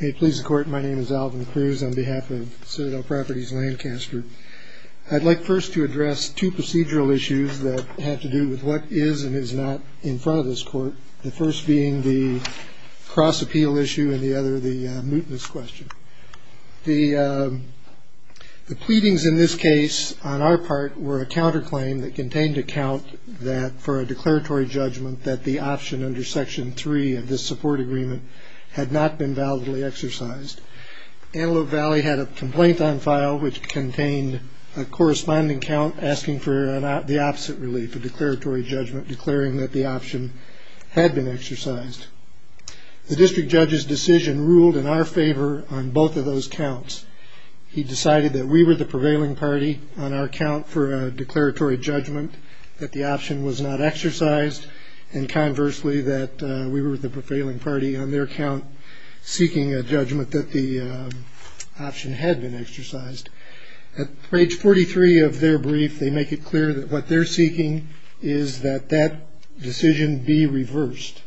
I'd like first to address two procedural issues that have to do with what is and is not in front of this court. The first being the cross-appeal issue and the other the mootness question. The pleadings in this case on our part were a counterclaim that contained a count for a declaratory judgment that the option under Section 3 of this support agreement had not been validly exercised. Antelope Valley had a complaint on file which contained a corresponding count asking for the opposite relief, a declaratory judgment declaring that the option had been exercised. The district judge's decision ruled in our favor on both of those counts. He decided that we were the prevailing party on our count for a declaratory judgment that the option was not exercised and conversely that we were the prevailing party on their count seeking a judgment that the option had been exercised. At page 43 of their brief they make it clear that what they're seeking is that that decision be reversed,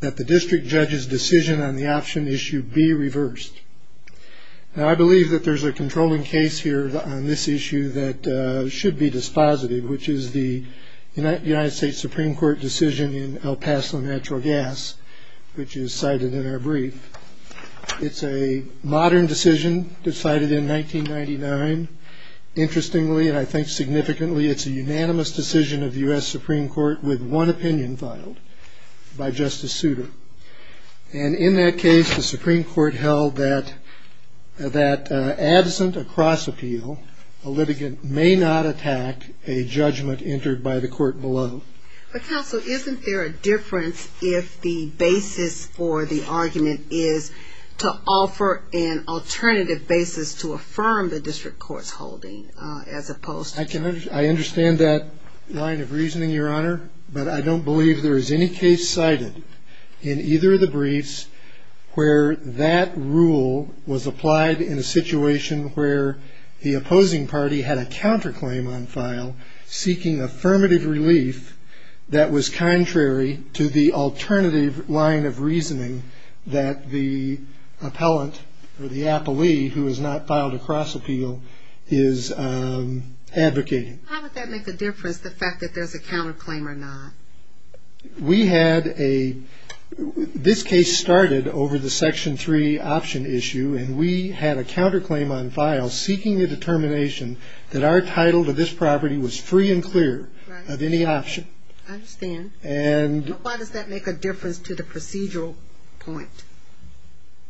that the district judge's decision on the option issue be reversed. Now I believe that there's a controlling case here on this issue that should be dispositive which is the United States Supreme Court decision in El Paso Natural Gas which is cited in our brief. It's a modern decision decided in 1999. Interestingly and I think significantly it's a unanimous decision of the U.S. Supreme Court with one opinion filed by Justice Souter. And in that case the Supreme Court held that that absent a cross appeal a litigant may not attack a judgment entered by the court below. But counsel isn't there a difference if the basis for the argument is to offer an alternative basis to affirm the district court's holding as opposed to I understand that line of reasoning, Your Honor, but I don't believe there is any case cited in either of the briefs where that rule was applied in a situation where the opposing party had a counterclaim on file seeking affirmative relief that was contrary to the alternative line of reasoning that the appellant or the appellee who has not filed a cross appeal is advocating. How would that make a difference the fact that there's a counterclaim or not? We had a, this case started over the section 3 option issue and we had a counterclaim on file seeking a determination that our title to this property was free and clear of any option. I understand. And Why does that make a difference to the procedural point?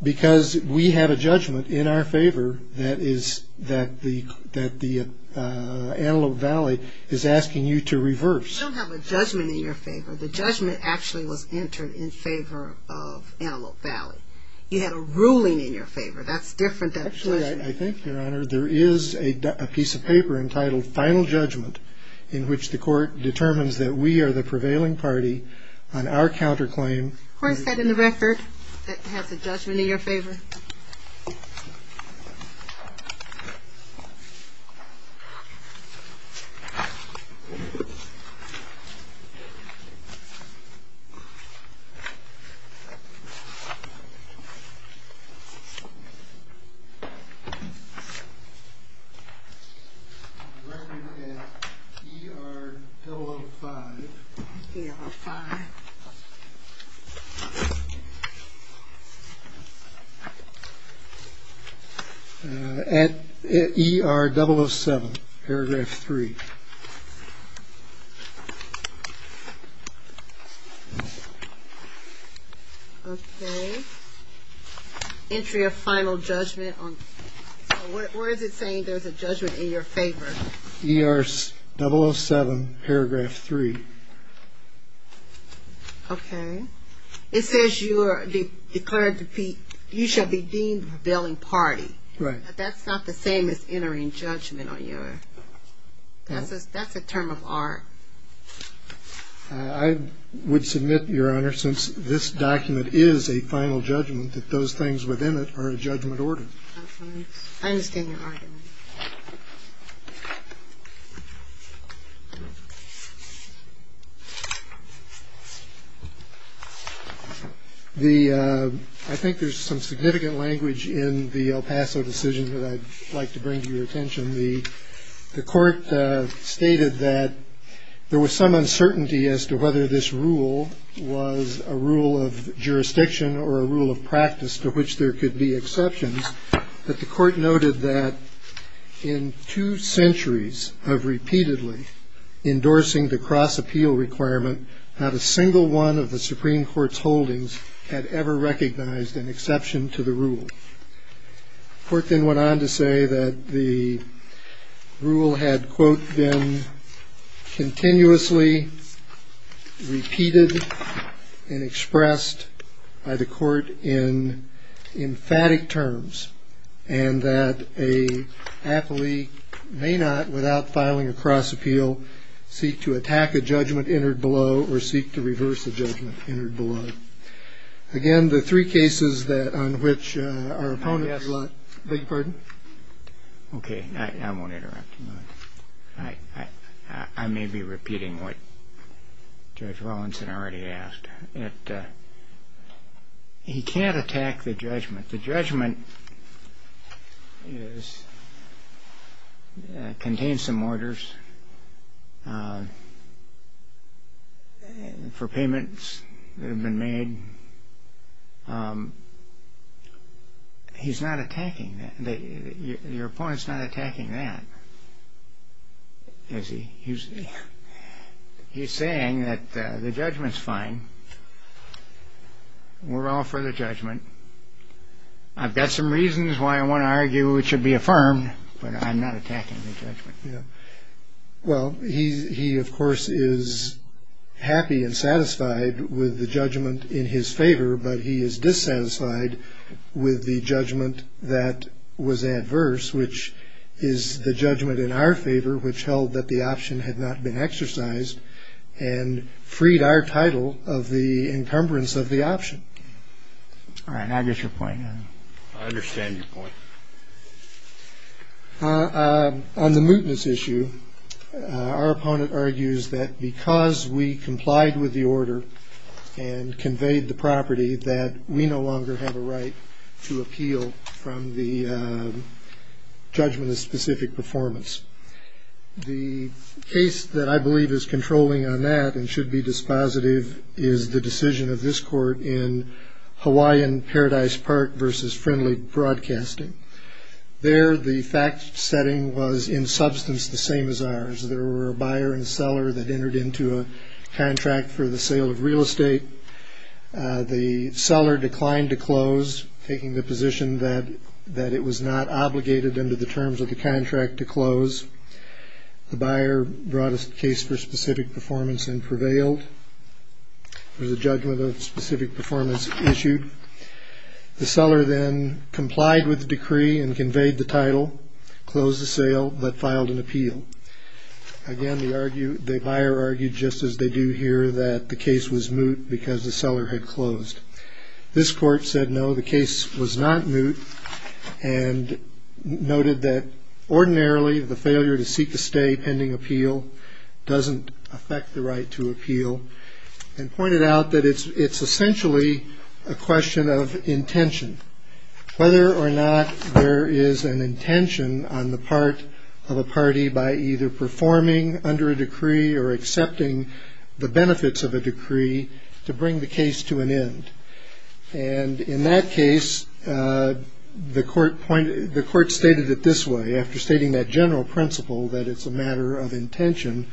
Because we have a judgment in our favor that is that the that the Antelope Valley is asking you to reverse. You don't have a judgment in your favor. The judgment actually was entered in favor of Antelope Valley. You had a ruling in your favor. That's different. Actually, I think, Your Honor, there is a piece of paper entitled Final Judgment in which the court determines that we are the prevailing party on our counterclaim. Where is that in the record that has a judgment in your favor? Five. Five. At E.R. 007 paragraph three. Okay. Entry of Final Judgment on, where is it saying there's a judgment in your favor? E.R. 007 paragraph three. Okay. It says you are declared to be, you shall be deemed prevailing party. Right. That's not the same as entering judgment on your, that's a term of art. I would submit, Your Honor, since this document is a final judgment, that those things within it are a judgment order. I understand your argument. The, I think there's some significant language in the El Paso decision that I'd like to bring to your attention. The court stated that there was some uncertainty as to whether this rule was a rule of jurisdiction or a rule of practice to which there could be exceptions. But the court noted that in two centuries of repeatedly endorsing the cross-appeal requirement, not a single one of the Supreme Court's holdings had ever recognized an exception to the rule. The court then went on to say that the rule had, quote, been continuously repeated and expressed by the court in emphatic terms, and that a athlete may not, without filing a cross-appeal, seek to attack a judgment entered below or seek to reverse a judgment entered below. Again, the three cases that, on which our opponents, I beg your pardon? Okay, I won't interrupt you. I may be repeating what Judge Wallinson already asked. He can't attack the judgment. But the judgment contains some orders for payments that have been made. He's not attacking that. Your opponent's not attacking that. He's saying that the judgment's fine. We're all for the judgment. I've got some reasons why I want to argue it should be affirmed, but I'm not attacking the judgment. Well, he, of course, is happy and satisfied with the judgment in his favor, but he is dissatisfied with the judgment that was adverse, which is the judgment in our favor which held that the option had not been exercised and freed our title of the encumbrance of the option. All right, I get your point now. I understand your point. On the mootness issue, our opponent argues that because we complied with the order and conveyed the property that we no longer have a right to appeal from the judgment of specific performance. The case that I believe is controlling on that and should be dispositive is the decision of this court in Hawaiian Paradise Park versus Friendly Broadcasting. There, the fact-setting was in substance the same as ours. There were a buyer and seller that entered into a contract for the sale of real estate. The seller declined to close, taking the position that it was not obligated under the terms of the contract to close. The buyer brought a case for specific performance and prevailed. There was a judgment of specific performance issued. The seller then complied with the decree and conveyed the title, closed the sale, but filed an appeal. Again, the buyer argued, just as they do here, that the case was moot because the seller had closed. This court said no, the case was not moot and noted that ordinarily, the failure to seek a stay pending appeal doesn't affect the right to appeal and pointed out that it's essentially a question of intention. Whether or not there is an intention on the part of a party by either performing under a decree or accepting the benefits of a decree to bring the case to an end. And in that case, the court stated it this way. After stating that general principle that it's a matter of intention,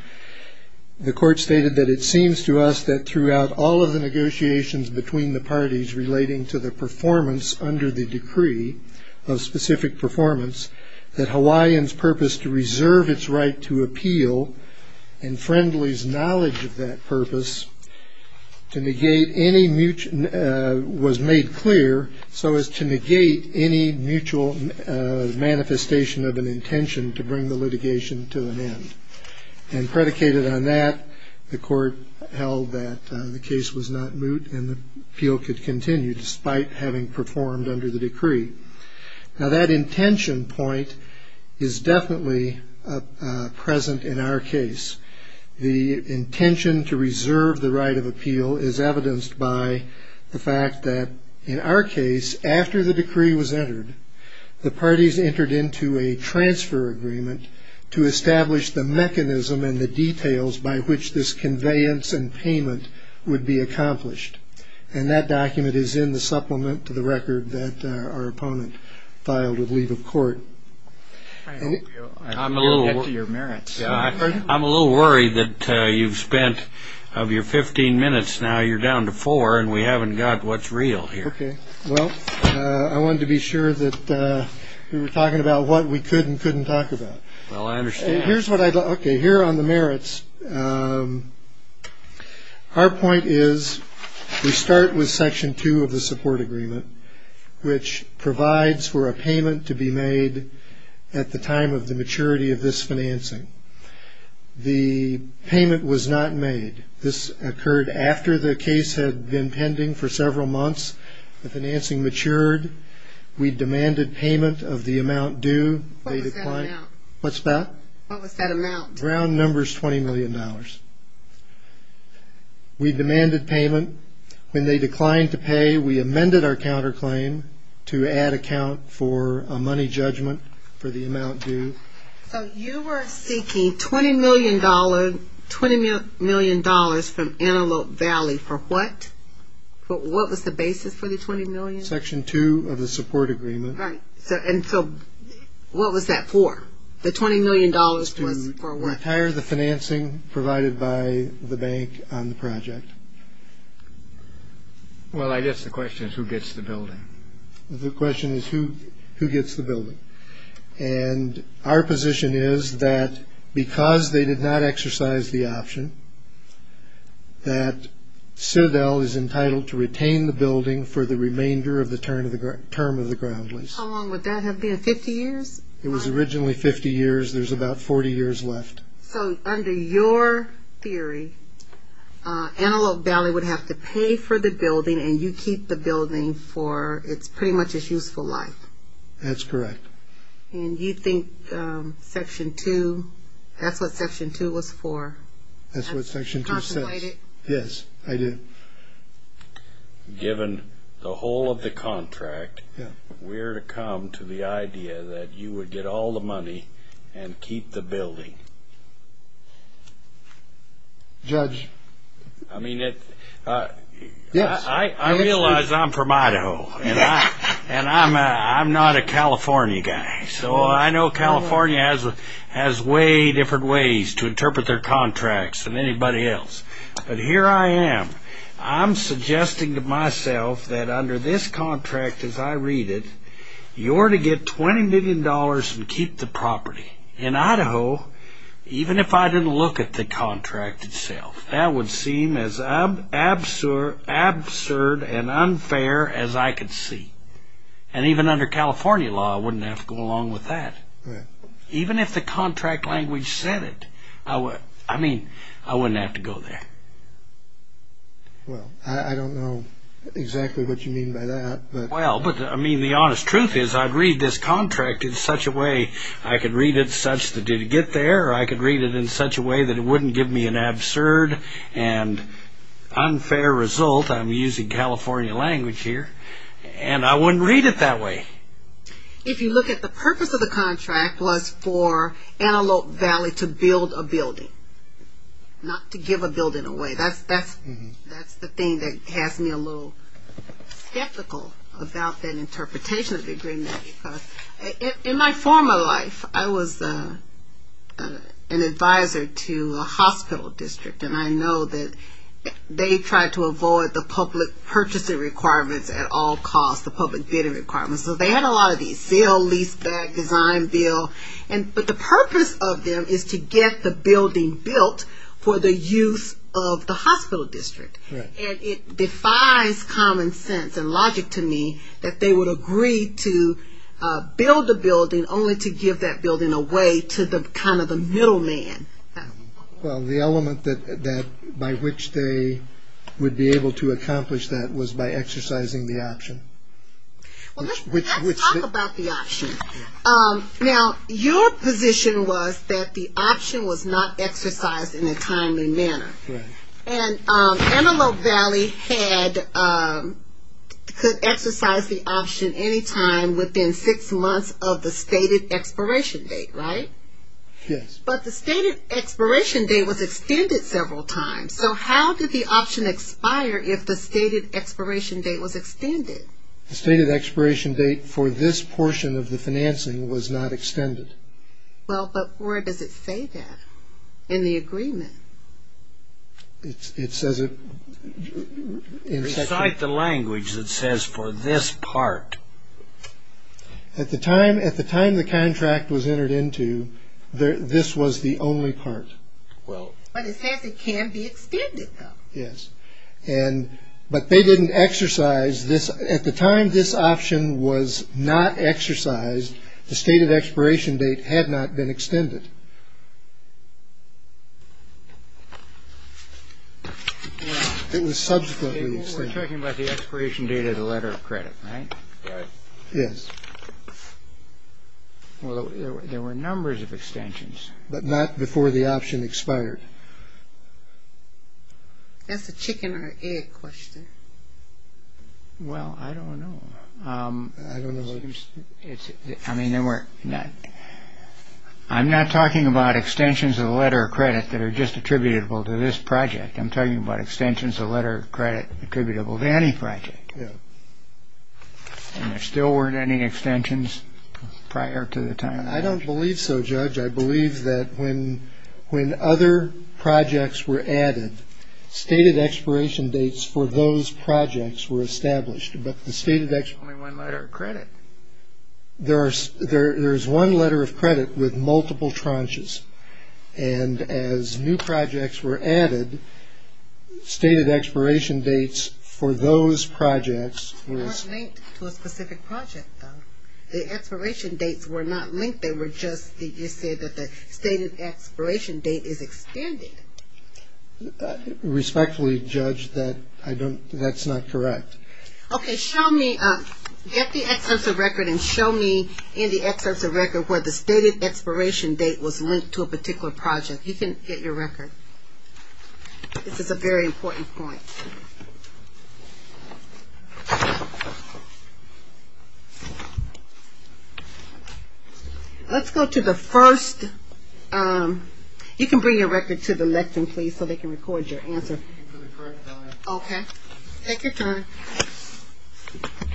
the court stated that it seems to us that throughout all of the negotiations between the parties relating to the performance under the decree of specific performance, that Hawaiian's purpose to reserve its right to appeal and Friendly's knowledge of that purpose was made clear so as to negate any mutual manifestation of an intention to bring the litigation to an end. And predicated on that, the court held that the case was not moot and the appeal could continue despite having performed under the decree. Now that intention point is definitely present in our case. The intention to reserve the right of appeal is evidenced by the fact that in our case, after the decree was entered, the parties entered into a transfer agreement to establish the mechanism and the details by which this conveyance and payment would be accomplished. And that document is in the supplement to the record that our opponent filed with leave of court. I'm a little worried that you've spent, of your 15 minutes now, you're down to four and we haven't got what's real here. Okay. Well, I wanted to be sure that we were talking about what we could and couldn't talk about. Well, I understand. Here's what I'd like to hear on the merits. Our point is we start with section two of the support agreement, which provides for a payment to be made at the time of the maturity of this financing. The payment was not made. This occurred after the case had been pending for several months. The financing matured. We demanded payment of the amount due. What was that amount? What's that? What was that amount? Round number is $20 million. We demanded payment. When they declined to pay, we amended our counterclaim to add account for a money judgment for the amount due. So you were seeking $20 million from Antelope Valley for what? What was the basis for the $20 million? Section two of the support agreement. Right. And so what was that for? The $20 million was for what? To retire the financing provided by the bank on the project. Well, I guess the question is who gets the building. The question is who gets the building. And our position is that because they did not exercise the option, that CERDEL is entitled to retain the building for the remainder of the term of the ground lease. How long would that have been, 50 years? It was originally 50 years. There's about 40 years left. So under your theory, Antelope Valley would have to pay for the building and you keep the building for pretty much its useful life. That's correct. And you think section two, that's what section two was for? That's what section two says. You contemplate it? Yes, I do. Given the whole of the contract, where to come to the idea that you would get all the money and keep the building? Judge? I mean, I realize I'm from Idaho. And I'm not a California guy. So I know California has way different ways to interpret their contracts than anybody else. But here I am. I'm suggesting to myself that under this contract as I read it, you're to get $20 million and keep the property. In Idaho, even if I didn't look at the contract itself, that would seem as absurd and unfair as I could see. And even under California law, I wouldn't have to go along with that. Even if the contract language said it, I mean, I wouldn't have to go there. Well, I don't know exactly what you mean by that. Well, I mean, the honest truth is I'd read this contract in such a way I could read it such that it'd get there or I could read it in such a way that it wouldn't give me an absurd and unfair result. I'm using California language here. And I wouldn't read it that way. If you look at the purpose of the contract was for Antelope Valley to build a building, not to give a building away. That's the thing that has me a little skeptical about that interpretation of the agreement. In my former life, I was an advisor to a hospital district. And I know that they tried to avoid the public purchasing requirements at all costs, the public bidding requirements. So they had a lot of these, sale, lease, bag, design, bill. But the purpose of them is to get the building built for the use of the hospital district. And it defies common sense and logic to me that they would agree to build a building only to give that building away to kind of the middle man. Well, the element by which they would be able to accomplish that was by exercising the option. Well, let's talk about the option. Now, your position was that the option was not exercised in a timely manner. Right. And Antelope Valley could exercise the option any time within six months of the stated expiration date, right? Yes. But the stated expiration date was extended several times. So how did the option expire if the stated expiration date was extended? The stated expiration date for this portion of the financing was not extended. Well, but where does it say that in the agreement? It says it in section. Recite the language that says for this part. At the time the contract was entered into, this was the only part. Well. But it says it can be extended, though. Yes. But they didn't exercise this. At the time this option was not exercised, the stated expiration date had not been extended. It was subsequently extended. We're talking about the expiration date of the letter of credit, right? Right. Yes. Well, there were numbers of extensions. But not before the option expired. That's a chicken or egg question. Well, I don't know. I don't know. I mean, there were not. I'm not talking about extensions of the letter of credit that are just attributable to this project. I'm talking about extensions of the letter of credit attributable to any project. Yes. And there still weren't any extensions prior to the time. I don't believe so, Judge. I believe that when other projects were added, stated expiration dates for those projects were established. But the stated expiration. Only one letter of credit. There's one letter of credit with multiple tranches. And as new projects were added, stated expiration dates for those projects were... Not linked to a specific project, though. The expiration dates were not linked. They were just, you said that the stated expiration date is extended. Respectfully, Judge, that I don't, that's not correct. Okay, show me, get the extensive record and show me in the extensive record where the stated expiration date was linked to a particular project. You can get your record. This is a very important point. Let's go to the first... You can bring your record to the lectern, please, so they can record your answer. Okay, take your time. Okay.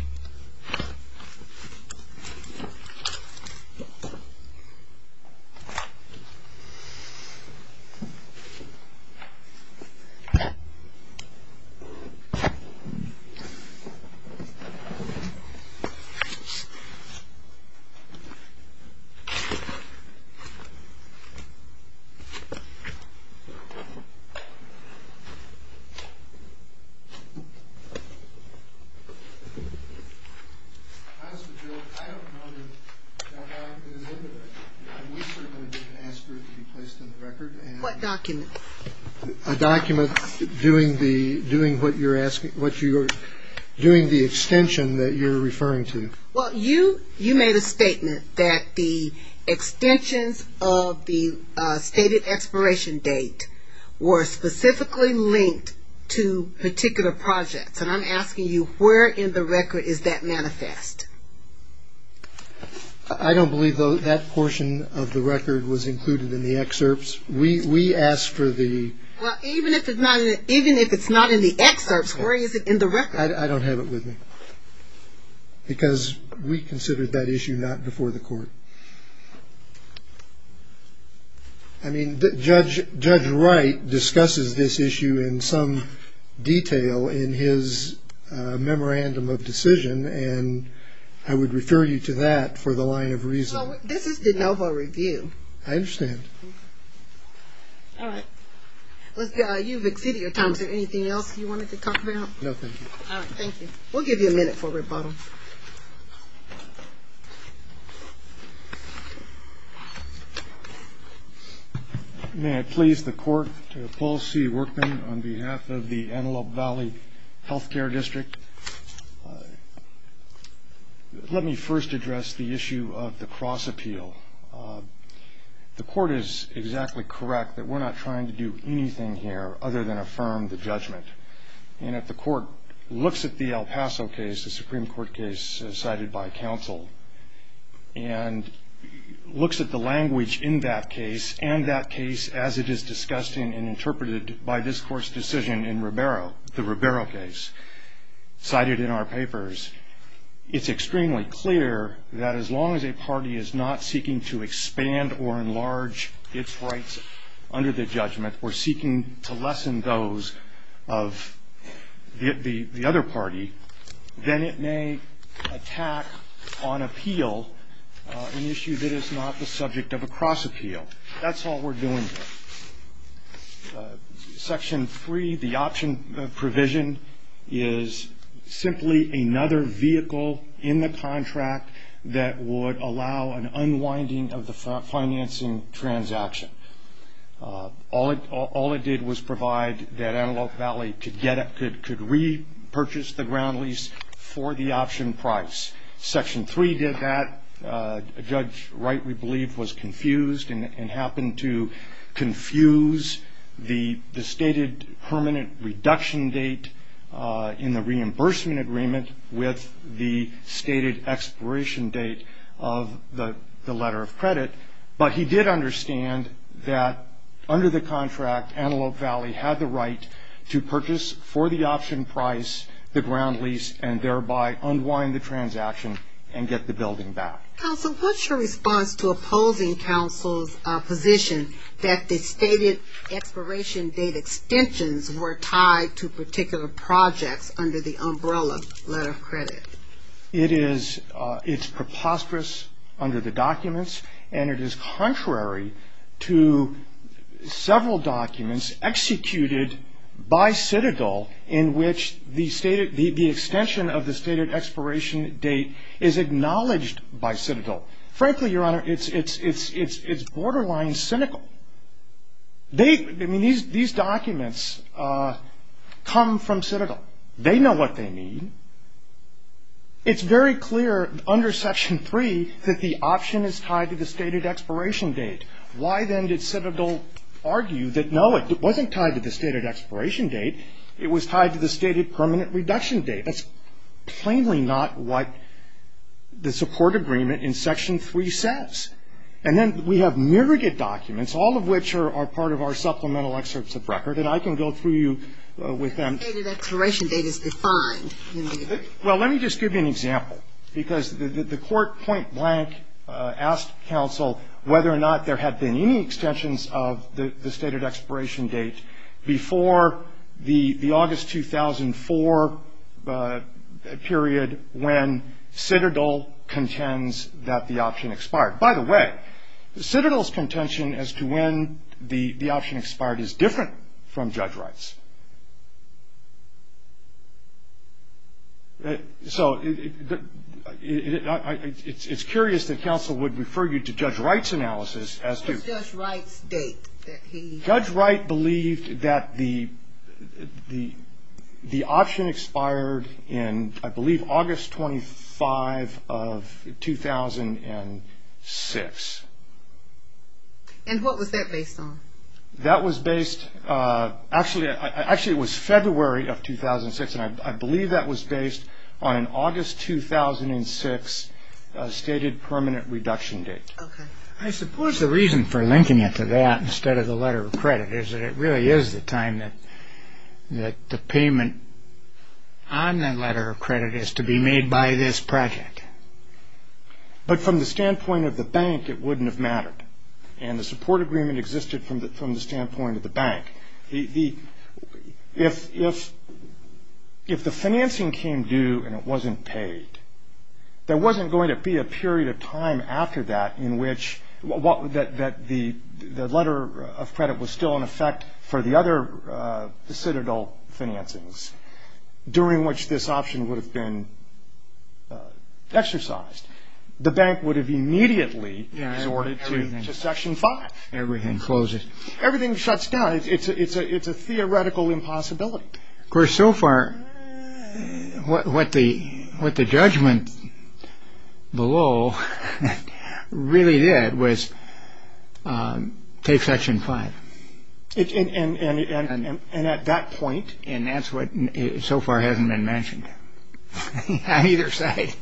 As for Jill, I don't know that that document is in there. We're going to ask for it to be placed in the record. What document? A document doing the extension that you're referring to. Well, you made a statement that the extensions of the stated expiration date were specifically linked to particular projects. And I'm asking you, where in the record is that manifest? I don't believe that portion of the record was included in the excerpts. We asked for the... Well, even if it's not in the excerpts, where is it in the record? I don't have it with me because we considered that issue not before the court. I mean, Judge Wright discusses this issue in some detail in his memorandum of decision. And I would refer you to that for the line of reason. Well, this is de novo review. I understand. All right. You've exceeded your time. Is there anything else you wanted to talk about? No, thank you. All right, thank you. We'll give you a minute for rebuttal. Thank you. May I please the court to appall C. Workman on behalf of the Antelope Valley Health Care District. Let me first address the issue of the cross-appeal. The court is exactly correct that we're not trying to do anything here other than affirm the judgment. And if the court looks at the El Paso case, the Supreme Court case cited by counsel, and looks at the language in that case and that case as it is discussed in and interpreted by this Court's decision in the Ribeiro case cited in our papers, it's extremely clear that as long as a party is not seeking to expand or enlarge its rights under the judgment or seeking to lessen those of the other party, then it may attack on appeal an issue that is not the subject of a cross-appeal. That's all we're doing here. Section 3, the option provision, is simply another vehicle in the contract that would allow an unwinding of the financing transaction. All it did was provide that Antelope Valley could repurchase the ground lease for the option price. Section 3 did that. A judge, rightly believed, was confused and happened to confuse the stated permanent reduction date in the reimbursement agreement with the stated expiration date of the letter of credit. But he did understand that under the contract, Antelope Valley had the right to purchase for the option price the ground lease and thereby unwind the transaction and get the building back. Counsel, what's your response to opposing counsel's position that the stated expiration date extensions were tied to particular projects under the umbrella letter of credit? It's preposterous under the documents and it is contrary to several documents executed by Citadel in which the extension of the stated expiration date is acknowledged by Citadel. Frankly, Your Honor, it's borderline cynical. These documents come from Citadel. They know what they need. It's very clear under Section 3 that the option is tied to the stated expiration date. Why then did Citadel argue that, no, it wasn't tied to the stated expiration date, it was tied to the stated permanent reduction date? That's plainly not what the support agreement in Section 3 says. And then we have myriad documents, all of which are part of our supplemental excerpts of record, and I can go through you with them. The stated expiration date is defined. Well, let me just give you an example, because the court point blank asked counsel whether or not there had been any extensions of the stated expiration date before the August 2004 period when Citadel contends that the option expired. By the way, Citadel's contention as to when the option expired is different from Judge Wright's. So it's curious that counsel would refer you to Judge Wright's analysis as to... What's Judge Wright's date that he... And what was that based on? That was based, actually it was February of 2006, and I believe that was based on an August 2006 stated permanent reduction date. Okay. I suppose the reason for linking it to that instead of the letter of credit is that it really is the time that the payment on the letter of credit is to be made by this project. But from the standpoint of the bank, it wouldn't have mattered, and the support agreement existed from the standpoint of the bank. If the financing came due and it wasn't paid, there wasn't going to be a period of time after that in which... that the letter of credit was still in effect for the other Citadel financings during which this option would have been exercised. The bank would have immediately sorted to Section 5. Everything closes. Everything shuts down. It's a theoretical impossibility. Of course, so far what the judgment below really did was take Section 5. And at that point... And that's what so far hasn't been mentioned. I neither say.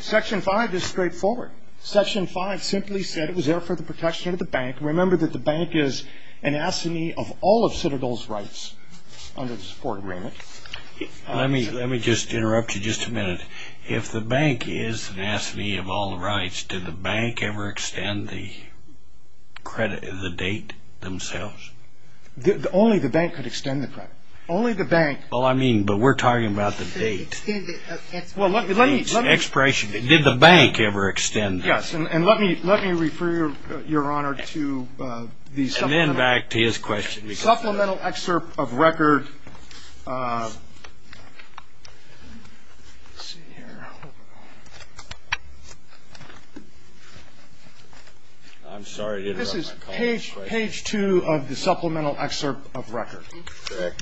Section 5 is straightforward. Section 5 simply said it was there for the protection of the bank. Remember that the bank is an assignee of all of Citadel's rights under the support agreement. Let me just interrupt you just a minute. If the bank is an assignee of all rights, did the bank ever extend the credit, the date themselves? Only the bank could extend the credit. Only the bank. Well, I mean, but we're talking about the date. Well, let me... Did the bank ever extend that? Yes. And let me refer, Your Honor, to the supplemental... And then back to his question. Supplemental excerpt of record. Let's see here. This is page 2 of the supplemental excerpt of record.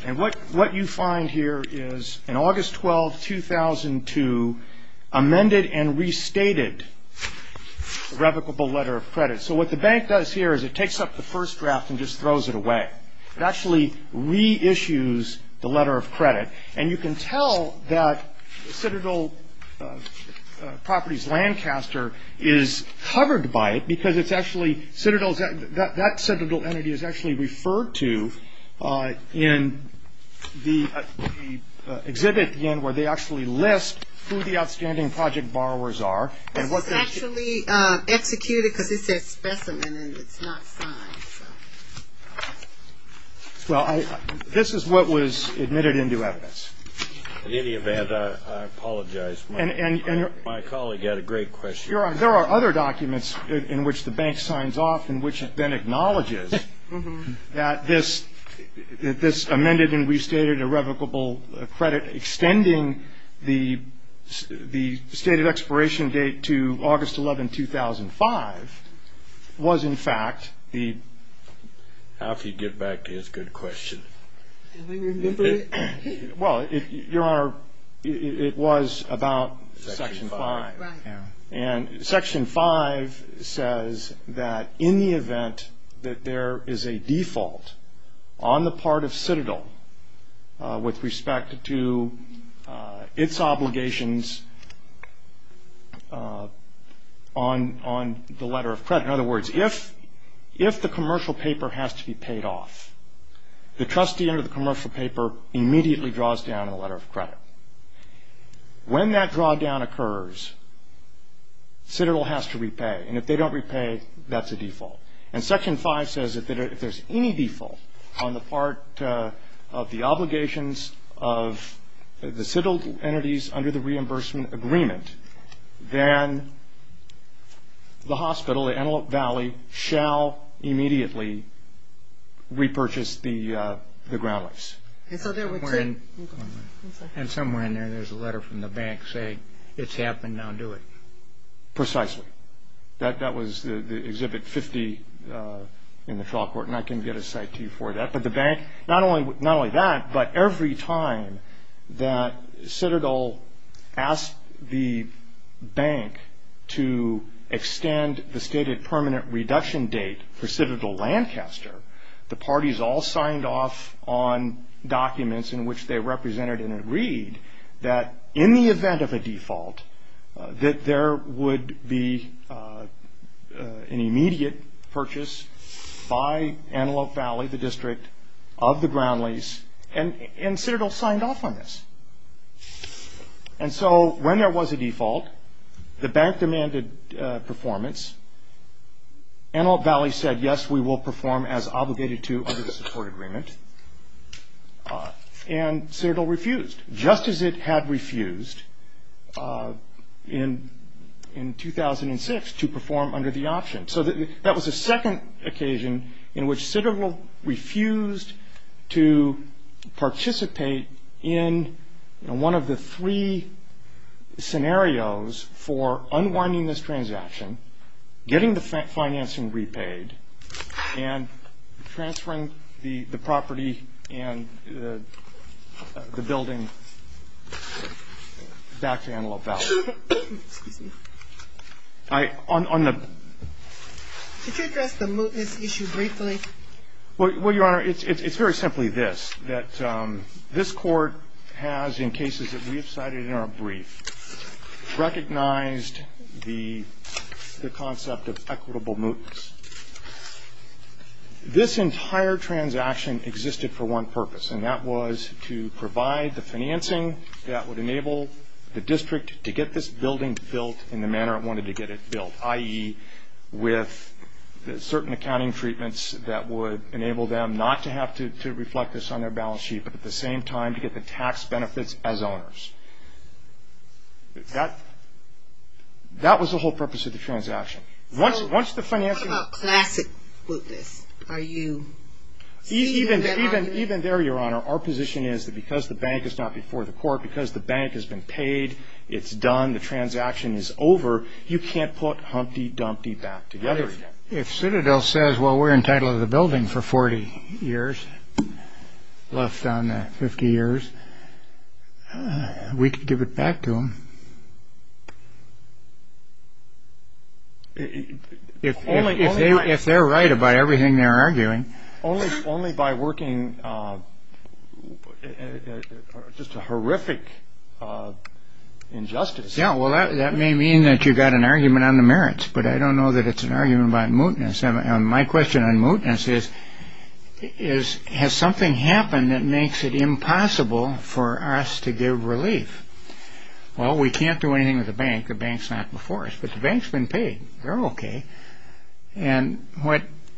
And what you find here is, in August 12, 2002, amended and restated revocable letter of credit. So what the bank does here is it takes up the first draft and just throws it away. It actually reissues the letter of credit. And you can tell that Citadel Properties Lancaster is covered by it because it's actually Citadel's... that Citadel entity is actually referred to in the exhibit, again, where they actually list who the outstanding project borrowers are. This is actually executed because it's a specimen and it's not signed. Well, this is what was admitted into evidence. In any event, I apologize. My colleague had a great question. Your Honor, there are other documents in which the bank signs off in which it then acknowledges that this amended and restated a revocable credit, extending the state of expiration date to August 11, 2005, was in fact the... How can you get back to his good question? Well, Your Honor, it was about Section 5. And Section 5 says that in the event that there is a default on the part of Citadel with respect to its obligations on the letter of credit. In other words, if the commercial paper has to be paid off, the trustee under the commercial paper immediately draws down a letter of credit. When that drawdown occurs, Citadel has to repay. And if they don't repay, that's a default. And Section 5 says that if there's any default on the part of the obligations of the Citadel entities under the reimbursement agreement, then the hospital at Antelope Valley shall immediately repurchase the ground lease. And somewhere in there, there's a letter from the bank saying it's happened, now do it. Precisely. That was Exhibit 50 in the trial court, and I can get a cite to you for that. But the bank, not only that, but every time that Citadel asked the bank to extend the stated permanent reduction date for Citadel-Lancaster, the parties all signed off on documents in which they represented and agreed that in the event of a default, that there would be an immediate purchase by Antelope Valley, the district of the ground lease, and Citadel signed off on this. And so when there was a default, the bank demanded performance. Antelope Valley said, yes, we will perform as obligated to under the support agreement. And Citadel refused, just as it had refused in 2006 to perform under the option. So that was the second occasion in which Citadel refused to participate in one of the three scenarios for unwinding this transaction, getting the financing repaid, and transferring the property and the building back to Antelope Valley. Excuse me. Could you address the mootness issue briefly? Well, Your Honor, it's very simply this, that this court has, in cases that we have cited in our brief, recognized the concept of equitable mootness. This entire transaction existed for one purpose, and that was to provide the financing that would enable the district to get this building built in the manner it wanted to get it built, i.e. with certain accounting treatments that would enable them not to have to reflect this on their balance sheet, but at the same time to get the tax benefits as owners. That was the whole purpose of the transaction. What about classic mootness? Even there, Your Honor, our position is that because the bank is not before the court, because the bank has been paid, it's done, the transaction is over, you can't put Humpty Dumpty back together again. If Citadel says, well, we're entitled to the building for 40 years, left on 50 years, we could give it back to them. If they're right about everything they're arguing. Only by working just a horrific injustice. Yeah, well, that may mean that you've got an argument on the merits, but I don't know that it's an argument about mootness. My question on mootness is, has something happened that makes it impossible for us to give relief? Well, we can't do anything with the bank. The bank's not before us, but the bank's been paid. They're okay. And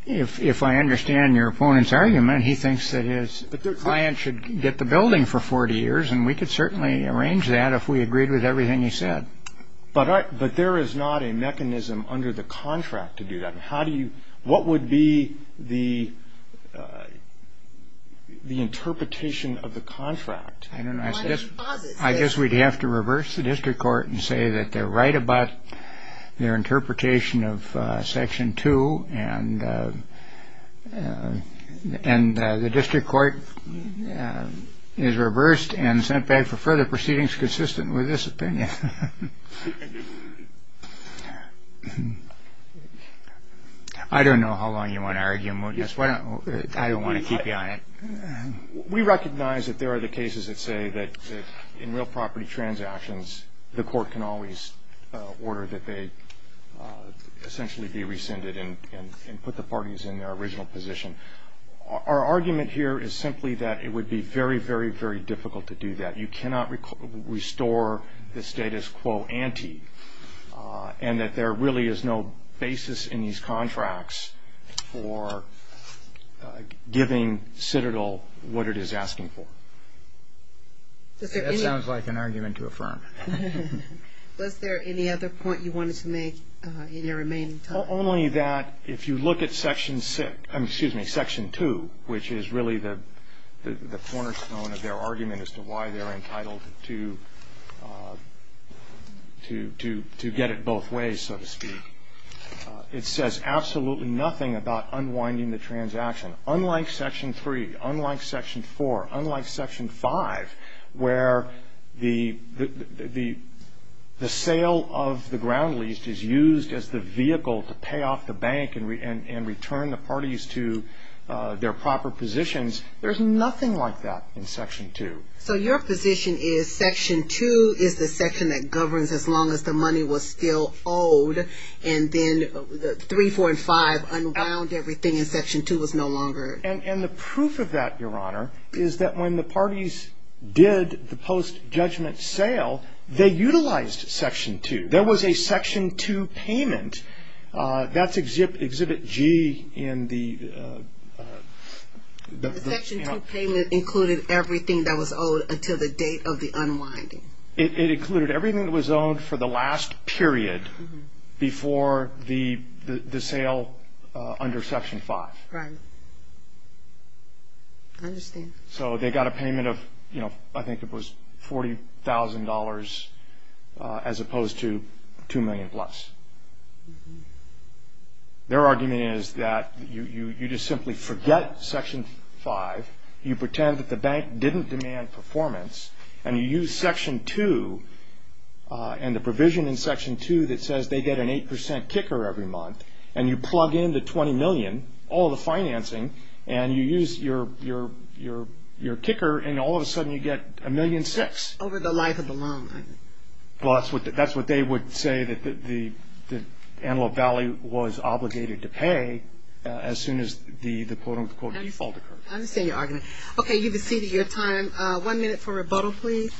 if I understand your opponent's argument, he thinks that his client should get the building for 40 years, and we could certainly arrange that if we agreed with everything he said. But there is not a mechanism under the contract to do that. What would be the interpretation of the contract? I guess we'd have to reverse the district court and say that they're right about their interpretation of Section 2, and the district court is reversed and sent back for further proceedings consistent with this opinion. I don't know how long you want to argue mootness. I don't want to keep you on it. We recognize that there are the cases that say that in real property transactions, the court can always order that they essentially be rescinded and put the parties in their original position. Our argument here is simply that it would be very, very, very difficult to do that. You cannot restore the status quo ante, and that there really is no basis in these contracts for giving Citadel what it is asking for. That sounds like an argument to affirm. Was there any other point you wanted to make in your remaining time? Only that if you look at Section 2, which is really the cornerstone of their argument as to why they're entitled to get it both ways, so to speak, it says absolutely nothing about unwinding the transaction. Unlike Section 3, unlike Section 4, unlike Section 5, where the sale of the ground lease is used as the vehicle to pay off the bank and return the parties to their proper positions, there's nothing like that in Section 2. So your position is Section 2 is the section that governs as long as the money was still owed, and then 3, 4, and 5 unwound everything and Section 2 was no longer. And the proof of that, Your Honor, is that when the parties did the post-judgment sale, they utilized Section 2. There was a Section 2 payment. That's Exhibit G in the… The Section 2 payment included everything that was owed until the date of the unwinding. It included everything that was owed for the last period before the sale under Section 5. Right. I understand. So they got a payment of, you know, I think it was $40,000 as opposed to $2 million plus. Their argument is that you just simply forget Section 5. You pretend that the bank didn't demand performance, and you use Section 2 and the provision in Section 2 that says they get an 8% kicker every month, and you plug in the $20 million, all the financing, and you use your kicker, and all of a sudden you get $1.6 million. Over the life of the loan. Well, that's what they would say that Antelope Valley was obligated to pay as soon as the default occurred. I understand your argument. Okay, you've exceeded your time. One minute for rebuttal, please.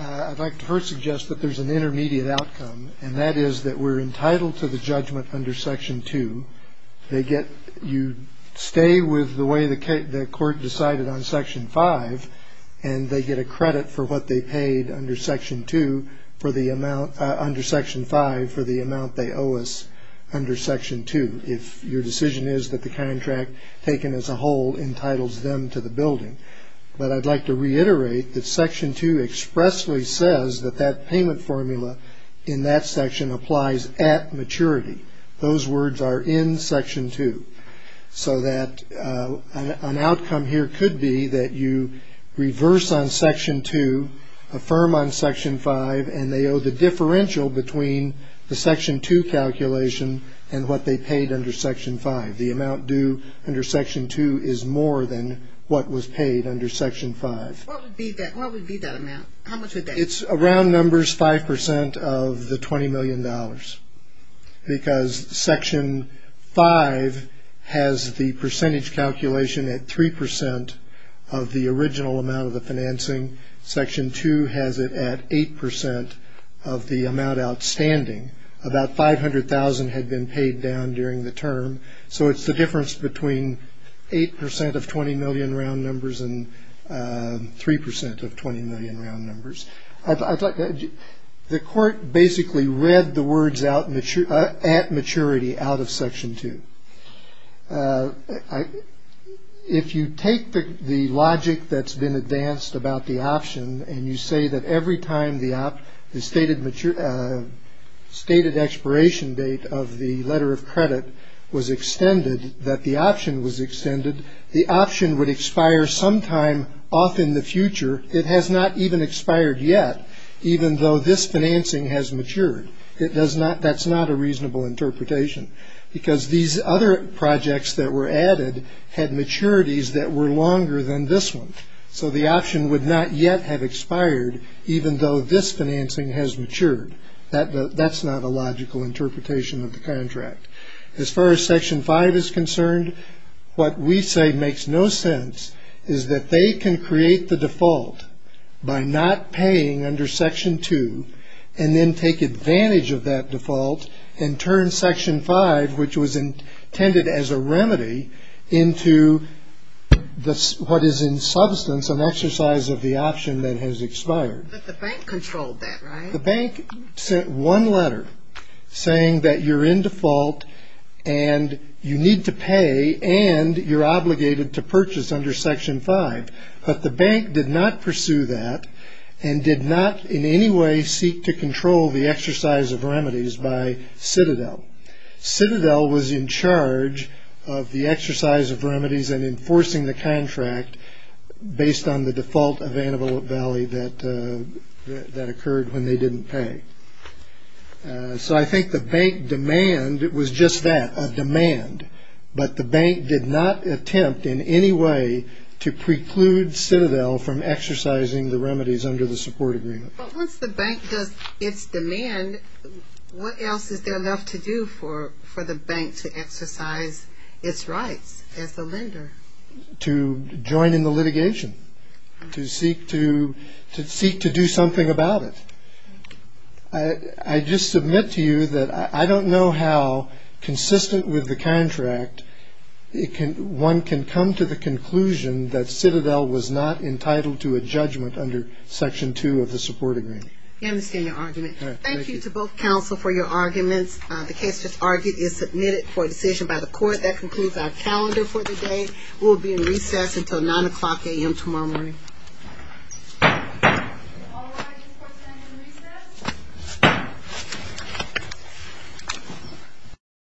I'd like to first suggest that there's an intermediate outcome, and that is that we're entitled to the judgment under Section 2. You stay with the way the court decided on Section 5, and they get a credit for what they paid under Section 5 for the amount they owe us under Section 2, if your decision is that the contract taken as a whole entitles them to the building. But I'd like to reiterate that Section 2 expressly says that that payment formula in that section applies at maturity. Those words are in Section 2. So that an outcome here could be that you reverse on Section 2, affirm on Section 5, and they owe the differential between the Section 2 calculation and what they paid under Section 5. The amount due under Section 2 is more than what was paid under Section 5. What would be that amount? How much would that be? It's around numbers 5% of the $20 million. Because Section 5 has the percentage calculation at 3% of the original amount of the financing. Section 2 has it at 8% of the amount outstanding. About $500,000 had been paid down during the term, so it's the difference between 8% of $20 million round numbers and 3% of $20 million round numbers. The court basically read the words at maturity out of Section 2. If you take the logic that's been advanced about the option and you say that every time the stated expiration date of the letter of credit was extended, that the option was extended, the option would expire sometime off in the future. It has not even expired yet, even though this financing has matured. That's not a reasonable interpretation, because these other projects that were added had maturities that were longer than this one. So the option would not yet have expired, even though this financing has matured. That's not a logical interpretation of the contract. As far as Section 5 is concerned, what we say makes no sense is that they can create the default by not paying under Section 2 and then take advantage of that default and turn Section 5, which was intended as a remedy, into what is in substance an exercise of the option that has expired. But the bank controlled that, right? The bank sent one letter saying that you're in default and you need to pay and you're obligated to purchase under Section 5. But the bank did not pursue that and did not in any way seek to control the exercise of remedies by Citadel. Citadel was in charge of the exercise of remedies and enforcing the contract based on the default of Antelope Valley that occurred when they didn't pay. So I think the bank demand was just that, a demand. But the bank did not attempt in any way to preclude Citadel from exercising the remedies under the support agreement. But once the bank does its demand, what else is there left to do for the bank to exercise its rights as the lender? To join in the litigation, to seek to do something about it. I just submit to you that I don't know how consistent with the contract one can come to the conclusion that Citadel was not entitled to a judgment under Section 2 of the support agreement. I understand your argument. Thank you to both counsel for your arguments. The case just argued is submitted for a decision by the court. That concludes our calendar for the day. We will be in recess until 9 o'clock a.m. tomorrow morning.